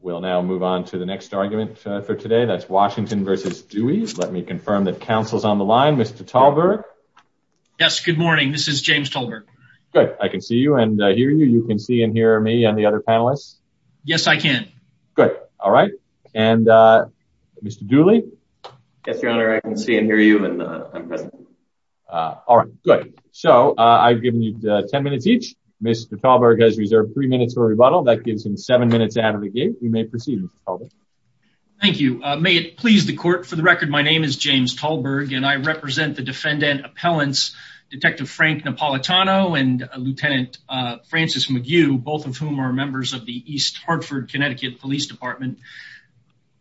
We'll now move on to the next argument for today. That's Washington versus Dewey. Let me confirm that counsel's on the line. Mr. Talberg? Yes, good morning. This is James Talberg. Good. I can see you and hear you. You can see and hear me and the other panelists? Yes, I can. Good. All right. And Mr. Dooley? Yes, your honor. I can see and hear you and I'm present. All right. Good. So I've given you 10 minutes each. Mr. Talberg has reserved three minutes for rebuttal. That gives him seven minutes out of the game. You may proceed, Mr. Talberg. Thank you. May it please the court, for the record, my name is James Talberg and I represent the defendant appellants, Detective Frank Napolitano and Lieutenant Francis McGue, both of whom are members of the East Hartford, Connecticut Police Department.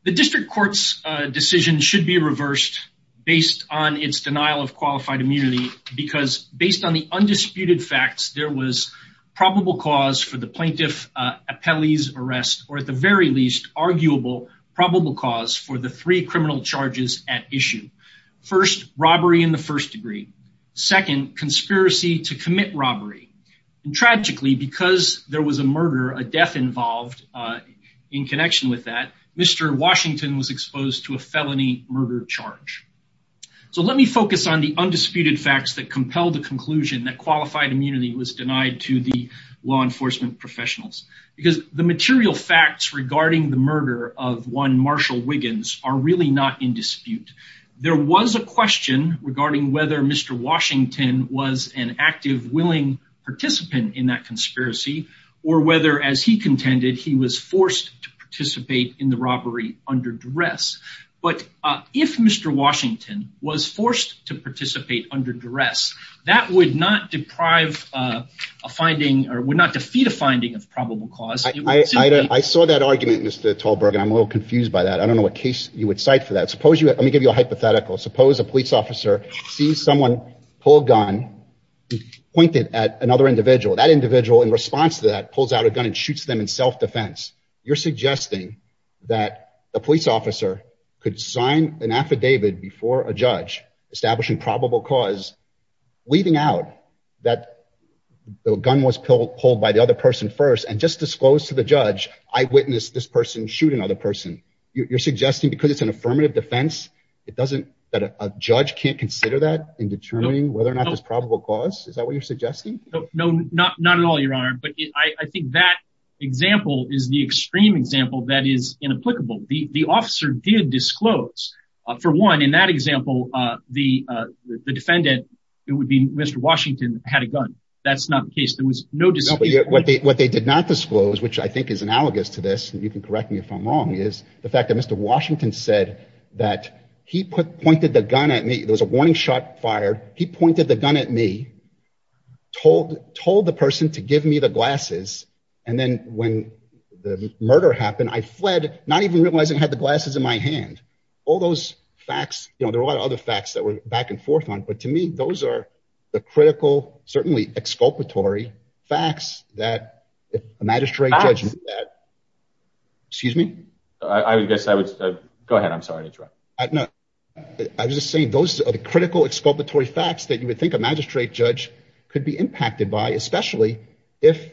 The district court's decision should be reversed based on its denial of qualified immunity because based on the undisputed facts, there was probable cause for the plaintiff appellee's arrest or at the very least, arguable probable cause for the three criminal charges at issue. First, robbery in the first degree. Second, conspiracy to commit robbery. And tragically, because there was a murder, a death involved in connection with that, Mr. Washington was exposed to a felony murder charge. So let me focus on the undisputed facts that compel the conclusion that qualified immunity was denied to the law enforcement professionals because the material facts regarding the murder of one Marshall Wiggins are really not in dispute. There was a question regarding whether Mr. Washington was an active, willing participant in that conspiracy or whether as he contended, he was forced to participate in the robbery under duress. But if Mr. Washington was forced to participate under duress, that would not deprive a finding or would not defeat a finding of probable cause. I saw that argument, Mr. Tallberg, and I'm a little confused by that. I don't know what case you would cite for that. Suppose you let me give you a hypothetical. Suppose a police officer sees someone pull a gun, pointed at another individual. That individual, in response to that, pulls out a gun and shoots them in self-defense. You're suggesting that a police officer could sign an affidavit before a judge establishing probable cause, leaving out that the gun was pulled by the other person first and just disclose to the judge, I witnessed this person shoot another person. You're suggesting because it's an affirmative defense, that a judge can't consider that in determining whether or not there's probable cause? Is that what you're suggesting? No, not at all, Your Honor. But I think that example is the extreme example that is inapplicable. The officer did disclose. For one, in that example, the defendant, it would be Mr. Washington, had a gun. That's not the case. There was no disclosure. What they did not disclose, which I think is analogous to this, and you can correct me if I'm wrong, is the fact that Mr. Washington said that he pointed the gun at me. There was a warning shot fired. He pointed the gun at me, told the person to give me the glasses, and then when the murder happened, I fled, not even realizing I had the glasses in my hand. All those facts, you know, there were a lot of other facts that were back and forth on, but to me, those are the critical, certainly exculpatory facts that a magistrate judge... Excuse me? I would guess I would... Go ahead. I'm sorry to interrupt. No, I was just saying those are the critical, exculpatory facts that you would think a magistrate judge could be impacted by, especially if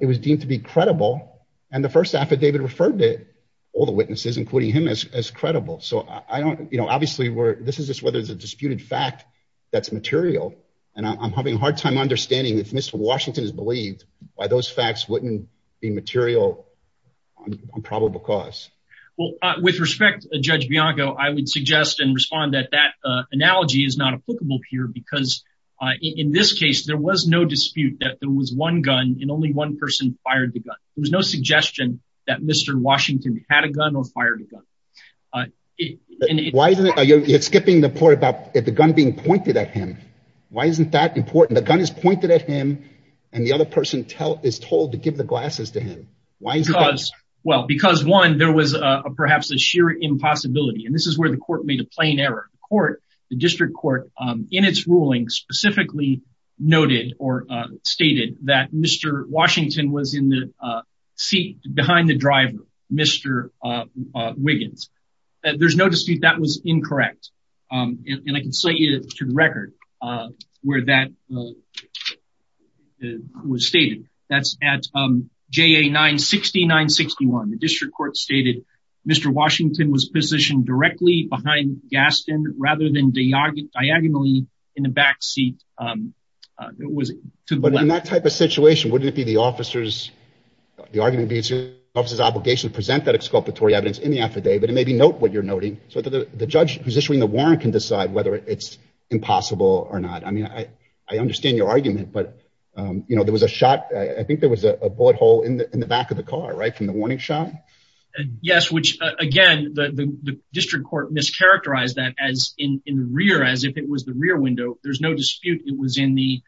it was deemed to be credible, and the first affidavit referred to all the witnesses, including him, as credible. So I don't... You know, obviously, this is just whether it's a disputed fact that's material, and I'm having a hard time understanding if Mr. Washington by those facts wouldn't be material on probable cause. Well, with respect, Judge Bianco, I would suggest and respond that that analogy is not applicable here, because in this case, there was no dispute that there was one gun, and only one person fired the gun. There was no suggestion that Mr. Washington had a gun or fired a gun. Why isn't it... You're skipping the point about the gun being pointed at him. Why isn't that important? The gun is pointed at him, and the other person is told to give the glasses to him. Why is that? Well, because one, there was perhaps a sheer impossibility, and this is where the court made a plain error. The court, the district court, in its ruling specifically noted or stated that Mr. Washington was in the seat behind the driver, Mr. Wiggins. There's no dispute that was incorrect, and I can cite you to the record where that was stated. That's at JA 960-961. The district court stated Mr. Washington was positioned directly behind Gaston rather than diagonally in the back seat. It was to the left. But in that type of situation, wouldn't it be the officer's, the argument would be the officer's obligation to present that exculpatory evidence in the affidavit and maybe note what you're noting so that the judge who's issuing the warrant can decide whether it's impossible or not. I mean, I understand your argument, but you know, there was a shot. I think there was a bullet hole in the back of the car, right, from the warning shot. Yes, which again, the district court mischaracterized that as in the rear, as if it was the rear window. There's no dispute it was in the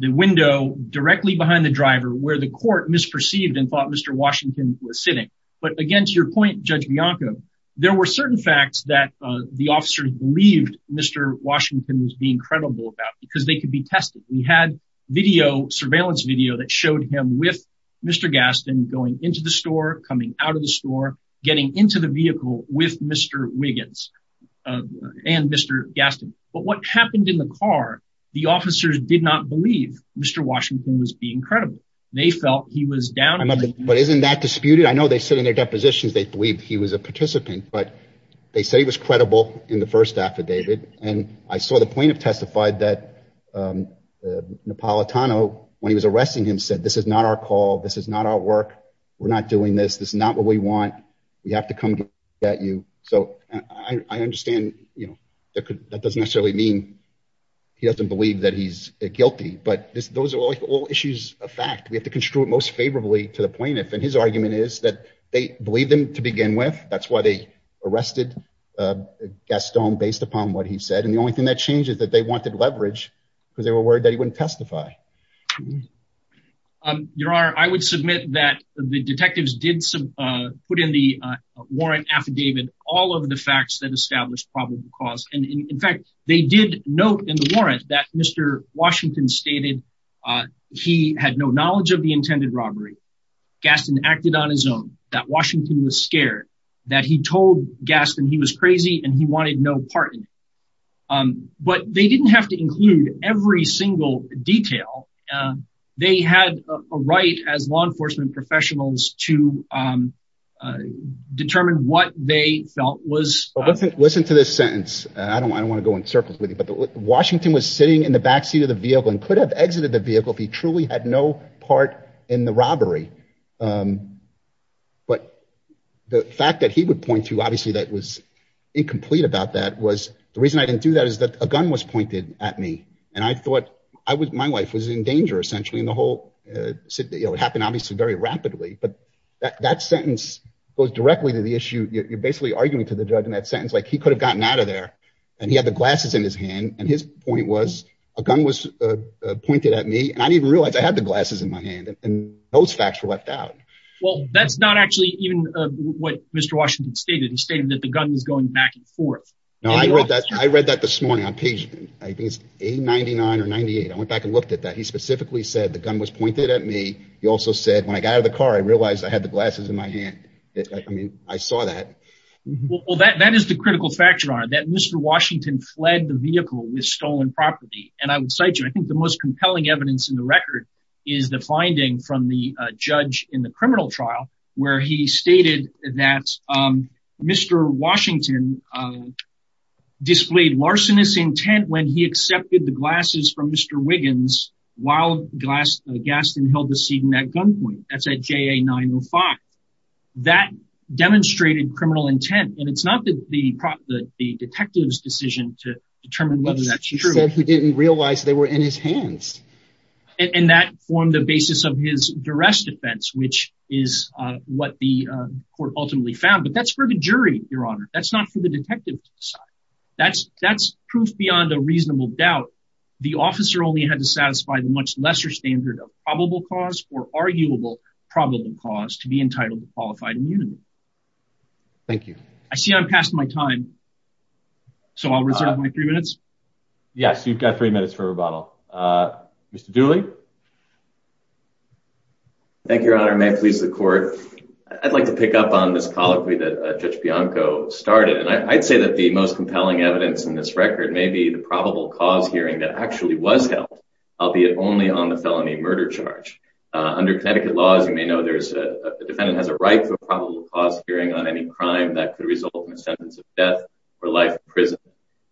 window directly behind the driver where the court misperceived and thought Mr. Washington was sitting. But again, to your point, Judge Bianco, there were certain facts that the officers believed Mr. Washington was being credible about because they could be tested. We had video, surveillance video that showed him with Mr. Gaston going into the store, coming out of the store, getting into the vehicle with Mr. Wiggins and Mr. Gaston. But what happened in the car, the officers did not believe Mr. Washington was being credible. They felt he was down. But isn't that disputed? I know they said in their depositions, they believed he was a participant, but they said he was credible in the first affidavit. And I saw the plaintiff testified that Napolitano, when he was arresting him, said this is not our call. This is not our work. We're not doing this. This is not what we want. We have to come get you. So I understand, you know, that doesn't necessarily mean he doesn't believe that he's guilty, but those are all issues of fact. We have to construe it most favorably to the plaintiff. And his argument is that they believed him to begin with. That's why they arrested Gaston based upon what he said. And the only thing that changed is that they wanted leverage because they were worried that he wouldn't testify. Your Honor, I would submit that the detectives did put in the warrant affidavit all of the facts that established probable cause. In fact, they did note in the warrant that Mr. Washington stated he had no knowledge of the intended robbery. Gaston acted on his own, that Washington was scared, that he told Gaston he was crazy and he wanted no part in it. But they didn't have to include every single detail. They had a right as law enforcement professionals to determine what they felt was... Listen to this I don't want to go in circles with you, but Washington was sitting in the backseat of the vehicle and could have exited the vehicle if he truly had no part in the robbery. But the fact that he would point to obviously that was incomplete about that was... The reason I didn't do that is that a gun was pointed at me and I thought my wife was in danger essentially and the whole... It happened obviously very rapidly, but that sentence goes directly to the issue. You're basically arguing to the judge in that sentence like he could have gotten out of and he had the glasses in his hand and his point was a gun was pointed at me and I didn't even realize I had the glasses in my hand and those facts were left out. Well, that's not actually even what Mr. Washington stated. He stated that the gun was going back and forth. No, I read that this morning on page I think it's 899 or 98. I went back and looked at that. He specifically said the gun was pointed at me. He also said when I got out of the car, I realized I had the glasses in my Well, that is the critical factor on it that Mr. Washington fled the vehicle with stolen property and I would cite you. I think the most compelling evidence in the record is the finding from the judge in the criminal trial where he stated that Mr. Washington displayed larcenous intent when he accepted the glasses from Mr. Wiggins while Gaston held the seat in that gunpoint. That's at JA 905. That demonstrated criminal intent and it's not the detective's decision to determine whether that's true. He said he didn't realize they were in his hands. And that formed the basis of his duress defense, which is what the court ultimately found, but that's for the jury, your honor. That's not for the detective to decide. That's proof beyond a reasonable doubt. The officer only had to satisfy the much lesser standard of probable cause or arguable probable cause to be entitled to qualified immunity. Thank you. I see I'm past my time, so I'll reserve my three minutes. Yes, you've got three minutes for rebuttal. Mr. Dooley. Thank you, your honor. May it please the court. I'd like to pick up on this colloquy that Judge Bianco started and I'd say that the most compelling evidence in this record may be the probable cause hearing that actually was held, albeit only on the felony murder charge. Under Connecticut laws, you may know there's a defendant has a right to a probable cause hearing on any crime that could result in a sentence of death or life in prison.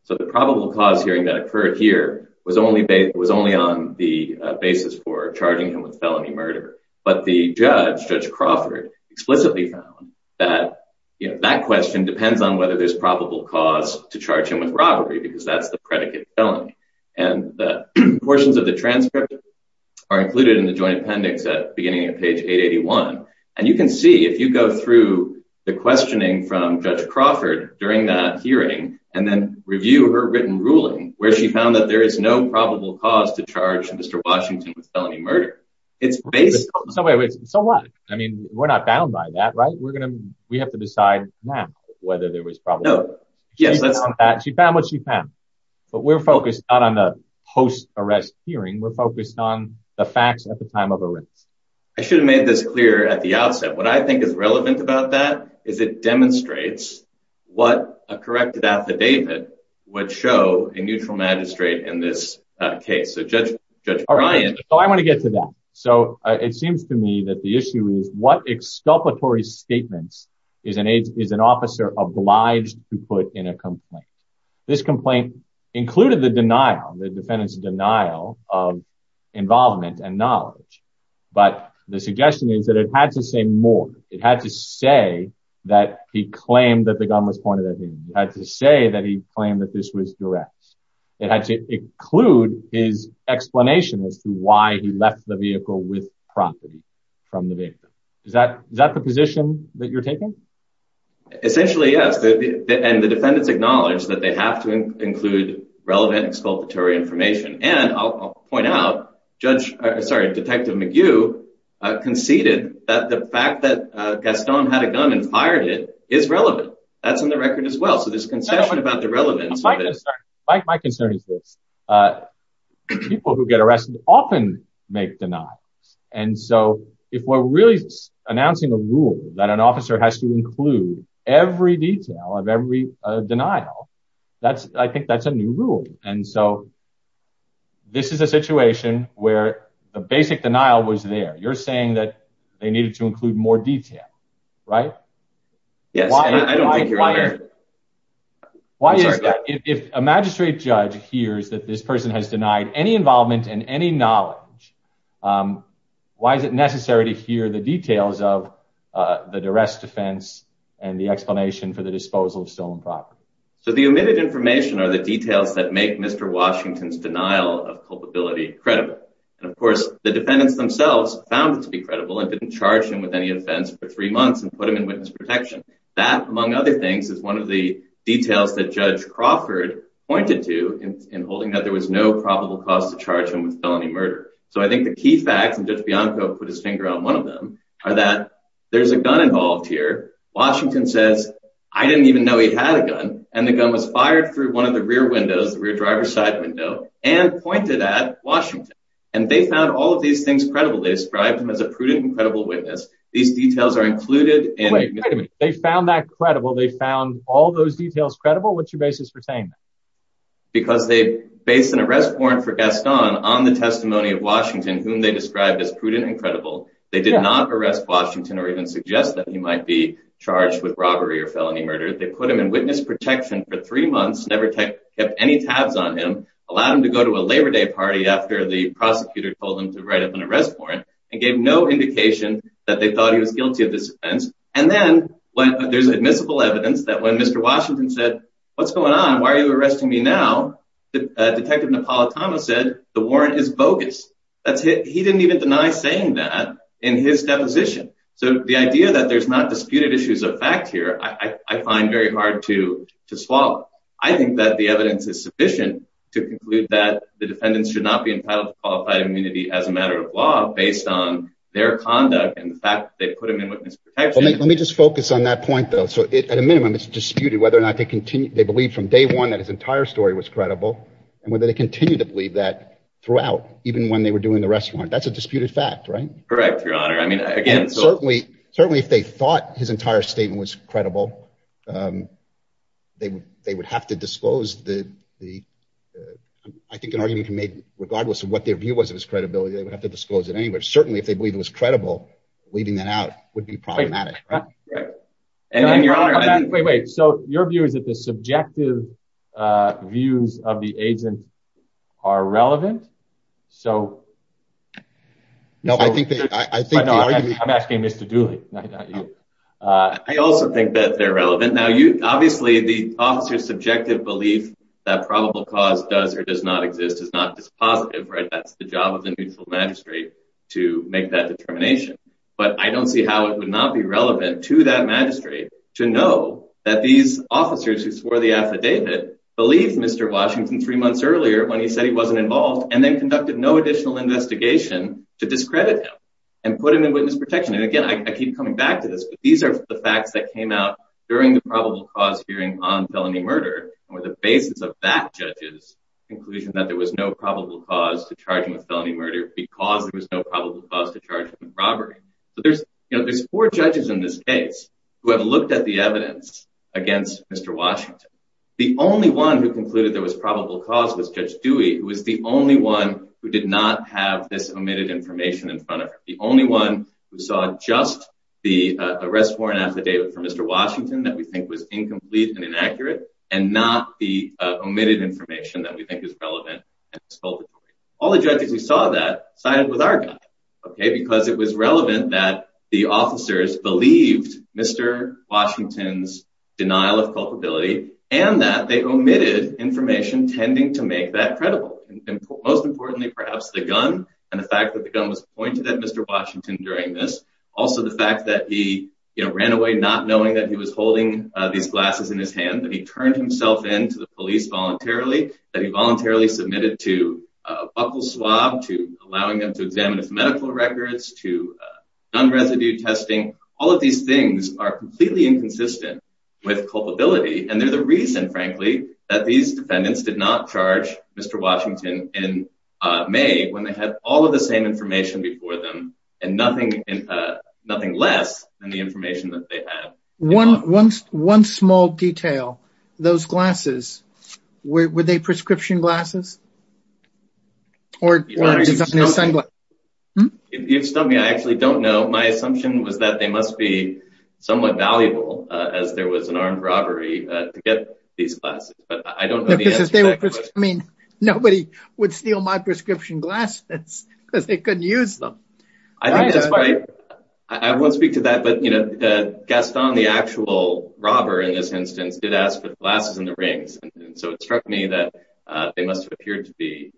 So the probable cause hearing that occurred here was only on the basis for charging him with felony murder. But the judge, Judge Crawford, explicitly found that that question depends on whether there's probable cause to charge him with robbery because that's the predicate felony. And the portions of the transcript are included in the joint appendix at the beginning of page 881. And you can see if you go through the questioning from Judge Crawford during that hearing and then review her written ruling where she found that there is no probable cause to charge Mr. Washington with felony murder. It's based. So what? I mean, we're not bound by that, right? We're going to we have to decide now whether there was probably. Yes, she found what we're focused on on the post-arrest hearing. We're focused on the facts at the time of arrest. I should have made this clear at the outset. What I think is relevant about that is it demonstrates what a corrected affidavit would show a neutral magistrate in this case. So Judge Brian, I want to get to that. So it seems to me that the issue is what exculpatory statements is an officer obliged to put in a complaint. This complaint included the denial, the defendant's denial of involvement and knowledge. But the suggestion is that it had to say more. It had to say that he claimed that the gun was pointed at him. He had to say that he claimed that this was direct. It had to include his explanation as to why he left the vehicle with property from the vehicle. Is that is that the position that you're taking? Essentially, yes. And the defendants acknowledge that they have to include relevant exculpatory information. And I'll point out Judge, sorry, Detective McGue conceded that the fact that Gaston had a gun and fired it is relevant. That's in the record as well. So there's a concession about the relevance. My concern is that people who get arrested often make denials. And so if we're really announcing a rule that an officer has to include every detail of every denial, that's I think that's a new rule. And so this is a situation where the basic denial was there. You're saying that they needed to include more detail, right? Yes. Why? Why is that? If a magistrate judge hears that this person has denied any involvement and any knowledge, why is it necessary to hear the details of the arrest defense and the explanation for the disposal of stolen property? So the omitted information are the details that make Mr. Washington's denial of culpability credible. And of course, the defendants themselves found it to be credible and didn't charge him with any offense for three months and put him in witness protection. That, among other things, is one of the details that Judge Crawford pointed to in holding that there was no probable cause to charge him with felony murder. So I think the key facts, and Judge Bianco put his finger on one of them, are that there's a gun involved here. Washington says, I didn't even know he had a gun. And the gun was fired through one of the rear windows, the rear driver's side window, and pointed at Washington. And they found all of these things credible. They described him as a prudent and credible witness. These details are included in- Wait, wait a minute. They found that credible? They found all those details credible? What's your basis for saying that? Because they based an arrest warrant for Gaston on the testimony of Washington, whom they described as prudent and credible. They did not arrest Washington or even suggest that he might be charged with robbery or felony murder. They put him in witness protection for three months, never kept any tabs on him, allowed him to go to a Labor Day party after the prosecutor told him to write up an arrest warrant, and gave no indication that they thought he was guilty of this offense. And then there's admissible evidence that when Mr. Washington said, what's going on? Why are you arresting me now? Detective Napolitano said the warrant is bogus. That's it. He didn't even deny saying that in his deposition. So the idea that there's not disputed issues of fact here, I find very hard to swallow. I think that the evidence is sufficient to conclude that the defendants should not be entitled to qualified immunity as a matter of law based on their conduct and the fact that they put him in witness protection. Let me just focus on that point though. So at a minimum, it's disputed whether or not they continue, they believe from day one that his entire story was credible and whether they continue to believe that throughout, even when they were doing the arrest warrant. That's a disputed fact, right? Correct, your honor. I mean, again, certainly, certainly if they thought his entire statement was credible, um, they would, they would have to disclose the, the, uh, I think an argument can make regardless of what their view was of his credibility. They would have to disclose it anyway. Certainly if they believe it was credible, leaving that out would be problematic. And then your honor, wait, wait. So your view is that the subjective, uh, views of the agent are relevant. So no, I think, I think I'm asking Mr. Dooley. I also think that they're relevant. Now you, obviously the officer's subjective belief that probable cause does or does not exist is not dispositive, right? That's the job of the neutral magistrate to make that determination. But I don't see how it would not be relevant to that magistrate to know that these officers who swore the affidavit believed Mr. Washington three months earlier when he said he wasn't involved and then conducted no additional investigation to discredit him and put him in witness protection. And again, I keep coming back to this, but these are the facts that came out during the probable cause hearing on felony murder or the basis of that judge's conclusion that there was no probable cause to charge him with felony murder because there was no probable cause to charge him with robbery. But there's, you know, there's four the evidence against Mr. Washington. The only one who concluded there was probable cause was Judge Dewey, who was the only one who did not have this omitted information in front of her. The only one who saw just the arrest warrant affidavit for Mr. Washington that we think was incomplete and inaccurate and not the omitted information that we think is relevant. All the judges who Washington's denial of culpability and that they omitted information tending to make that credible. And most importantly, perhaps the gun and the fact that the gun was pointed at Mr. Washington during this. Also, the fact that he ran away not knowing that he was holding these glasses in his hand, that he turned himself in to the police voluntarily, that he voluntarily submitted to a buckle swab, to allowing them to examine his medical records, to gun residue testing. All of these things are completely inconsistent with culpability. And they're the reason, frankly, that these defendants did not charge Mr. Washington in May when they had all of the same information before them and nothing less than the information that they had. One small detail. Those glasses, were they prescription glasses? You've stumped me. I actually don't know. My assumption was that they must be somewhat valuable as there was an armed robbery to get these glasses. But I don't know the answer. I mean, nobody would steal my prescription glasses because they couldn't use them. I think that's why, I won't speak to that, but Gaston, the actual robber in this instance, did ask for the glasses and the rings. And so it struck me that they must have appeared to be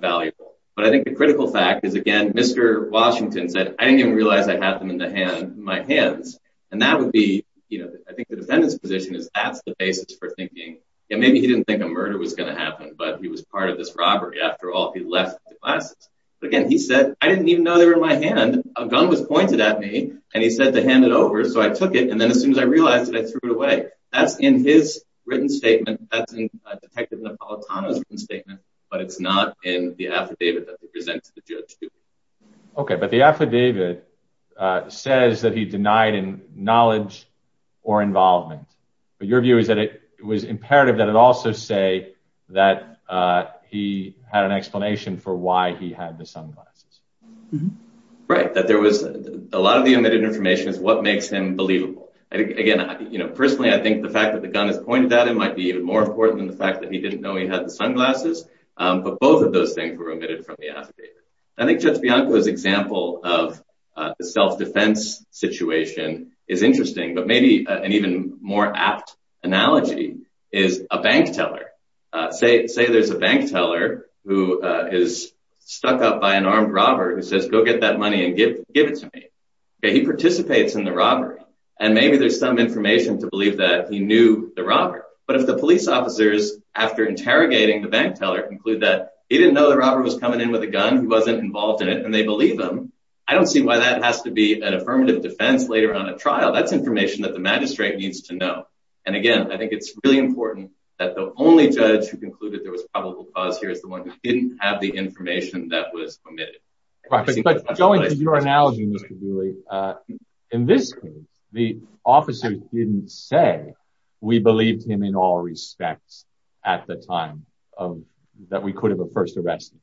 valuable. But I think the critical fact is, again, Mr. Washington said, I didn't even realize I had them in my hands. And that would be, I think the defendant's position is that's the basis for thinking. And maybe he didn't think a murder was going to happen, but he was part of this robbery after all. He left the glasses. But again, he said, I didn't even know they were in my hand. A gun was pointed at me and he said to hand it over. So I took it. And then as soon as I realized it, I threw it away. That's in his written statement. That's in Detective Napolitano's statement, but it's not in the affidavit that we present to the judge. Okay. But the affidavit says that he denied in knowledge or involvement, but your view is that it was imperative that it also say that he had an explanation for why he had the sunglasses. Right. That there was a lot of the omitted information is what makes him believable. Again, personally, I think the fact that the gun is pointed at him might be even more important than the fact that he didn't know he had the sunglasses. But both of those things were omitted from the affidavit. I think Judge Bianco's example of the self-defense situation is interesting, but maybe an even more apt analogy is a bank teller. Say there's a bank teller who is stuck up by an armed robber who says, go get that money and give it to me. He participates in the robbery and maybe there's some information to believe that he knew the robber. But if the police officers, after interrogating the bank teller, conclude that he didn't know the robber was coming in with a gun, he wasn't involved in it, and they believe him, I don't see why that has to be an affirmative defense later on a trial. That's information that the magistrate needs to know. And again, I think it's really important that the only judge who concluded there was probable cause here is the one who didn't have the information that was omitted. But going to your analogy, Mr. Dewey, in this case, the officers didn't say we believed him in all respects at the time that we could have first arrested him.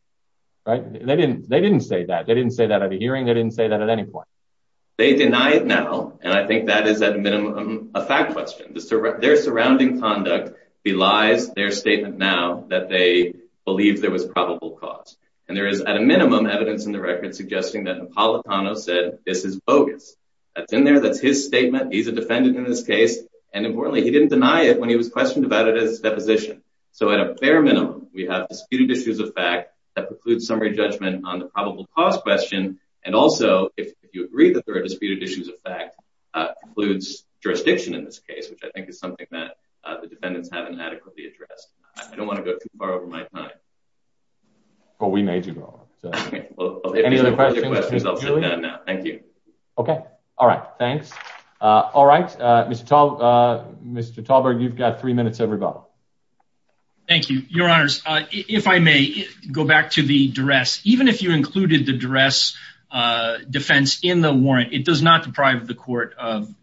They didn't say that. They didn't say that at a hearing. They didn't say that at any point. They deny it now, and I think that is, at a minimum, a fact question. Their surrounding conduct belies their statement now that they believe there was probable cause. And there is, at a minimum, evidence in the record suggesting that Napolitano said, this is bogus. That's in there. That's his statement. He's a defendant in this case. And importantly, he didn't deny it when he was questioned about it as a deposition. So at a fair minimum, we have disputed issues of fact that precludes summary judgment on the probable cause question. And also, if you agree that there are disputed issues of fact, precludes jurisdiction in this case, which I think is something that the defendants haven't adequately addressed. I don't want to go too far over my time. Well, we made you go. Any other questions, Julian? Thank you. Okay. All right. Thanks. All right. Mr. Talberg, you've got three minutes, everybody. Thank you, Your Honors. If I may, go back to the duress. Even if you included the duress defense in the warrant, it does not deprive the court of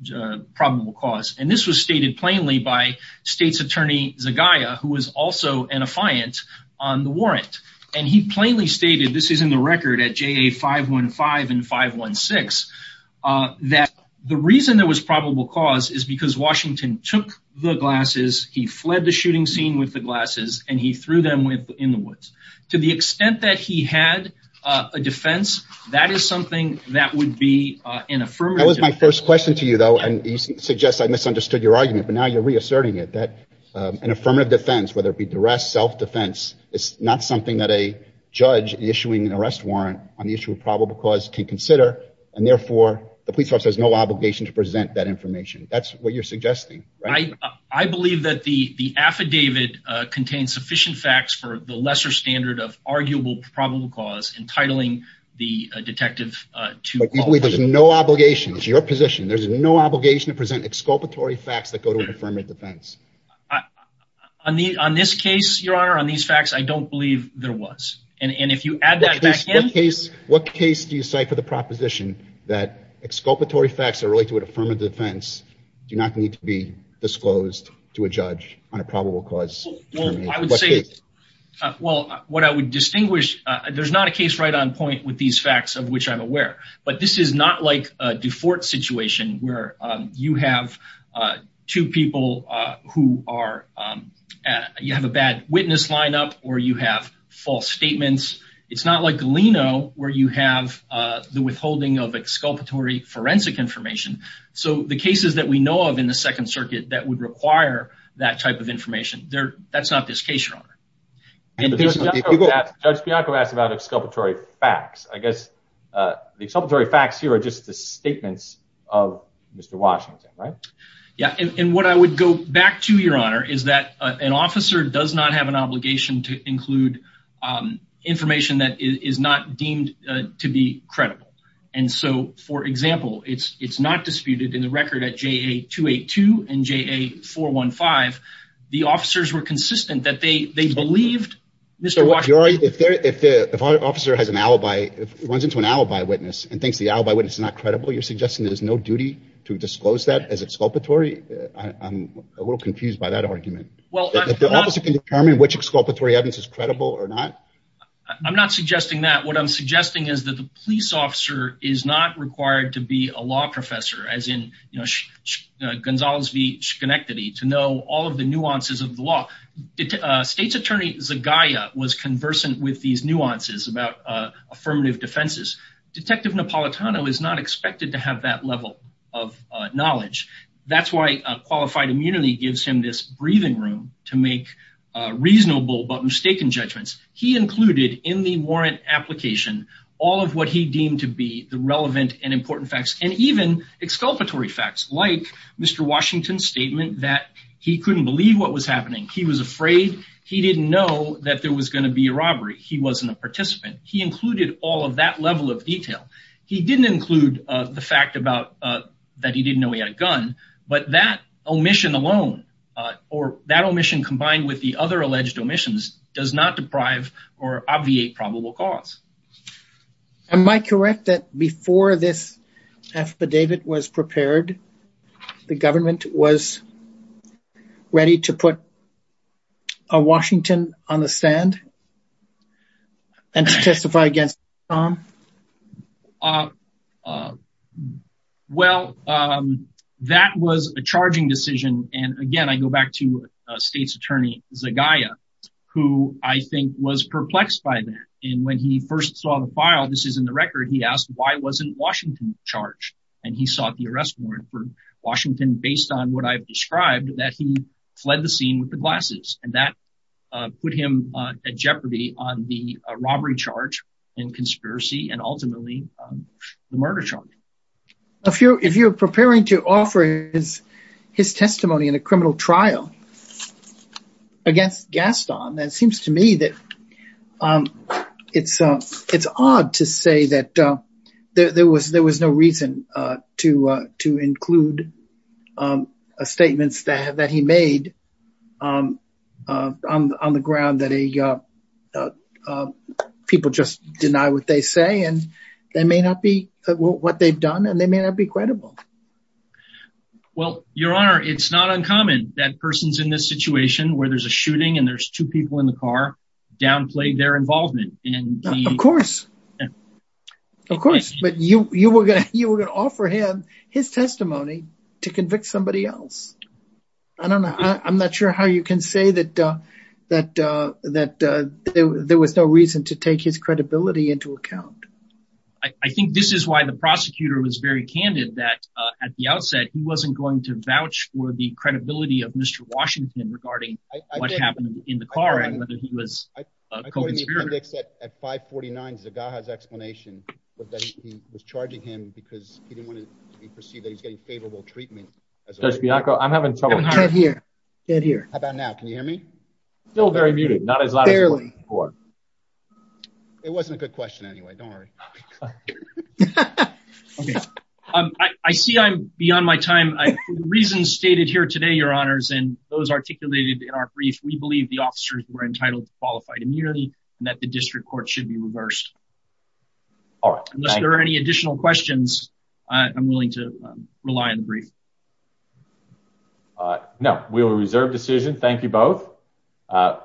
probable cause. And this was stated plainly by State's Attorney Zegaya, who was also an affiant on the warrant. And he plainly stated, this is in the record at JA 515 and 516, that the reason there was probable cause is because Washington took the glasses, he fled the shooting scene with the glasses, and he threw them in the woods. To the extent that he had a defense, that is something that would be an affirmative. That was my first question to you, though. And you suggest I misunderstood your argument. But now you're reasserting it, that an affirmative defense, whether it be duress, self-defense, is not something that a judge issuing an arrest warrant on the issue of probable cause can consider. And therefore, the police officer has no obligation to present that information. That's what you're suggesting, right? I believe that the affidavit contains sufficient facts for the lesser standard of arguable probable cause, entitling the detective to- But you believe there's no obligation. It's your position. There's no obligation to present exculpatory facts that go to an affirmative defense. On this case, your honor, on these facts, I don't believe there was. And if you add that back in- What case do you cite for the proposition that exculpatory facts that relate to an affirmative defense do not need to be disclosed to a judge on a probable cause? I would say, well, what I would distinguish, there's not a case right on point with these two people who have a bad witness lineup or you have false statements. It's not like Galeno, where you have the withholding of exculpatory forensic information. So the cases that we know of in the Second Circuit that would require that type of information, that's not this case, your honor. Judge Bianco asked about exculpatory facts. I guess the exculpatory facts here are just the right. Yeah. And what I would go back to, your honor, is that an officer does not have an obligation to include information that is not deemed to be credible. And so, for example, it's not disputed in the record at JA 282 and JA 415. The officers were consistent that they believed- If the officer has an alibi, runs into an alibi witness and thinks the alibi witness is not credible, you're suggesting there's no duty to disclose that as exculpatory? I'm a little confused by that argument. Well- If the officer can determine which exculpatory evidence is credible or not? I'm not suggesting that. What I'm suggesting is that the police officer is not required to be a law professor, as in Gonzales v. Schenectady, to know all of the nuances of the law. State's attorney Zagaya was conversant with these nuances about affirmative defenses. Detective Napolitano is not expected to have that level of knowledge. That's why qualified immunity gives him this breathing room to make reasonable but mistaken judgments. He included in the warrant application all of what he deemed to be the relevant and important facts and even exculpatory facts, like Mr. Washington's statement that he couldn't believe what was happening. He was afraid. He didn't know that there was going to be a robbery. He wasn't a participant. He included all of that level of detail. He didn't include the fact that he didn't know he had a gun, but that omission alone, or that omission combined with the other alleged omissions, does not deprive or obviate probable cause. Am I correct that before this affidavit was prepared, the government was ready to put Washington on the stand and to testify against him? Well, that was a charging decision. Again, I go back to State's attorney Zagaya, who I think was perplexed by that. When he first saw the file, this is in the record, he asked, why wasn't Washington charged? He sought the arrest warrant for Washington based on what I've described, that he fled the scene with the glasses. That put him at jeopardy on the robbery charge and conspiracy, and ultimately, the murder charge. If you're preparing to offer his testimony in a criminal trial against Gaston, it seems to me that it's odd to say that there was no reason to include statements that he made on the ground that people just deny what they say, and they may not be what they've done, and they may not be credible. Well, Your Honor, it's not uncommon that persons in this situation where there's a shooting, and there's two people in the car, downplay their involvement. Of course, but you were going to offer him his testimony to convict somebody else. I don't know, I'm not sure how you can say that there was no reason to take his credibility into account. I think this is why the prosecutor was very candid that at the outset, he wasn't going to in the car, and whether he was a co-conspirator. At 549, Zagaha's explanation was that he was charging him because he didn't want to be perceived that he's getting favorable treatment. Judge Bianco, I'm having trouble hearing you. Dead here. How about now? Can you hear me? Still very muted. Barely. It wasn't a good question anyway. Don't worry. I see I'm beyond my time. The reasons stated here today, Your Honors, those articulated in our brief, we believe the officers were entitled to qualified immunity, and that the district court should be reversed. Unless there are any additional questions, I'm willing to rely on the brief. No, we will reserve decision. Thank you both.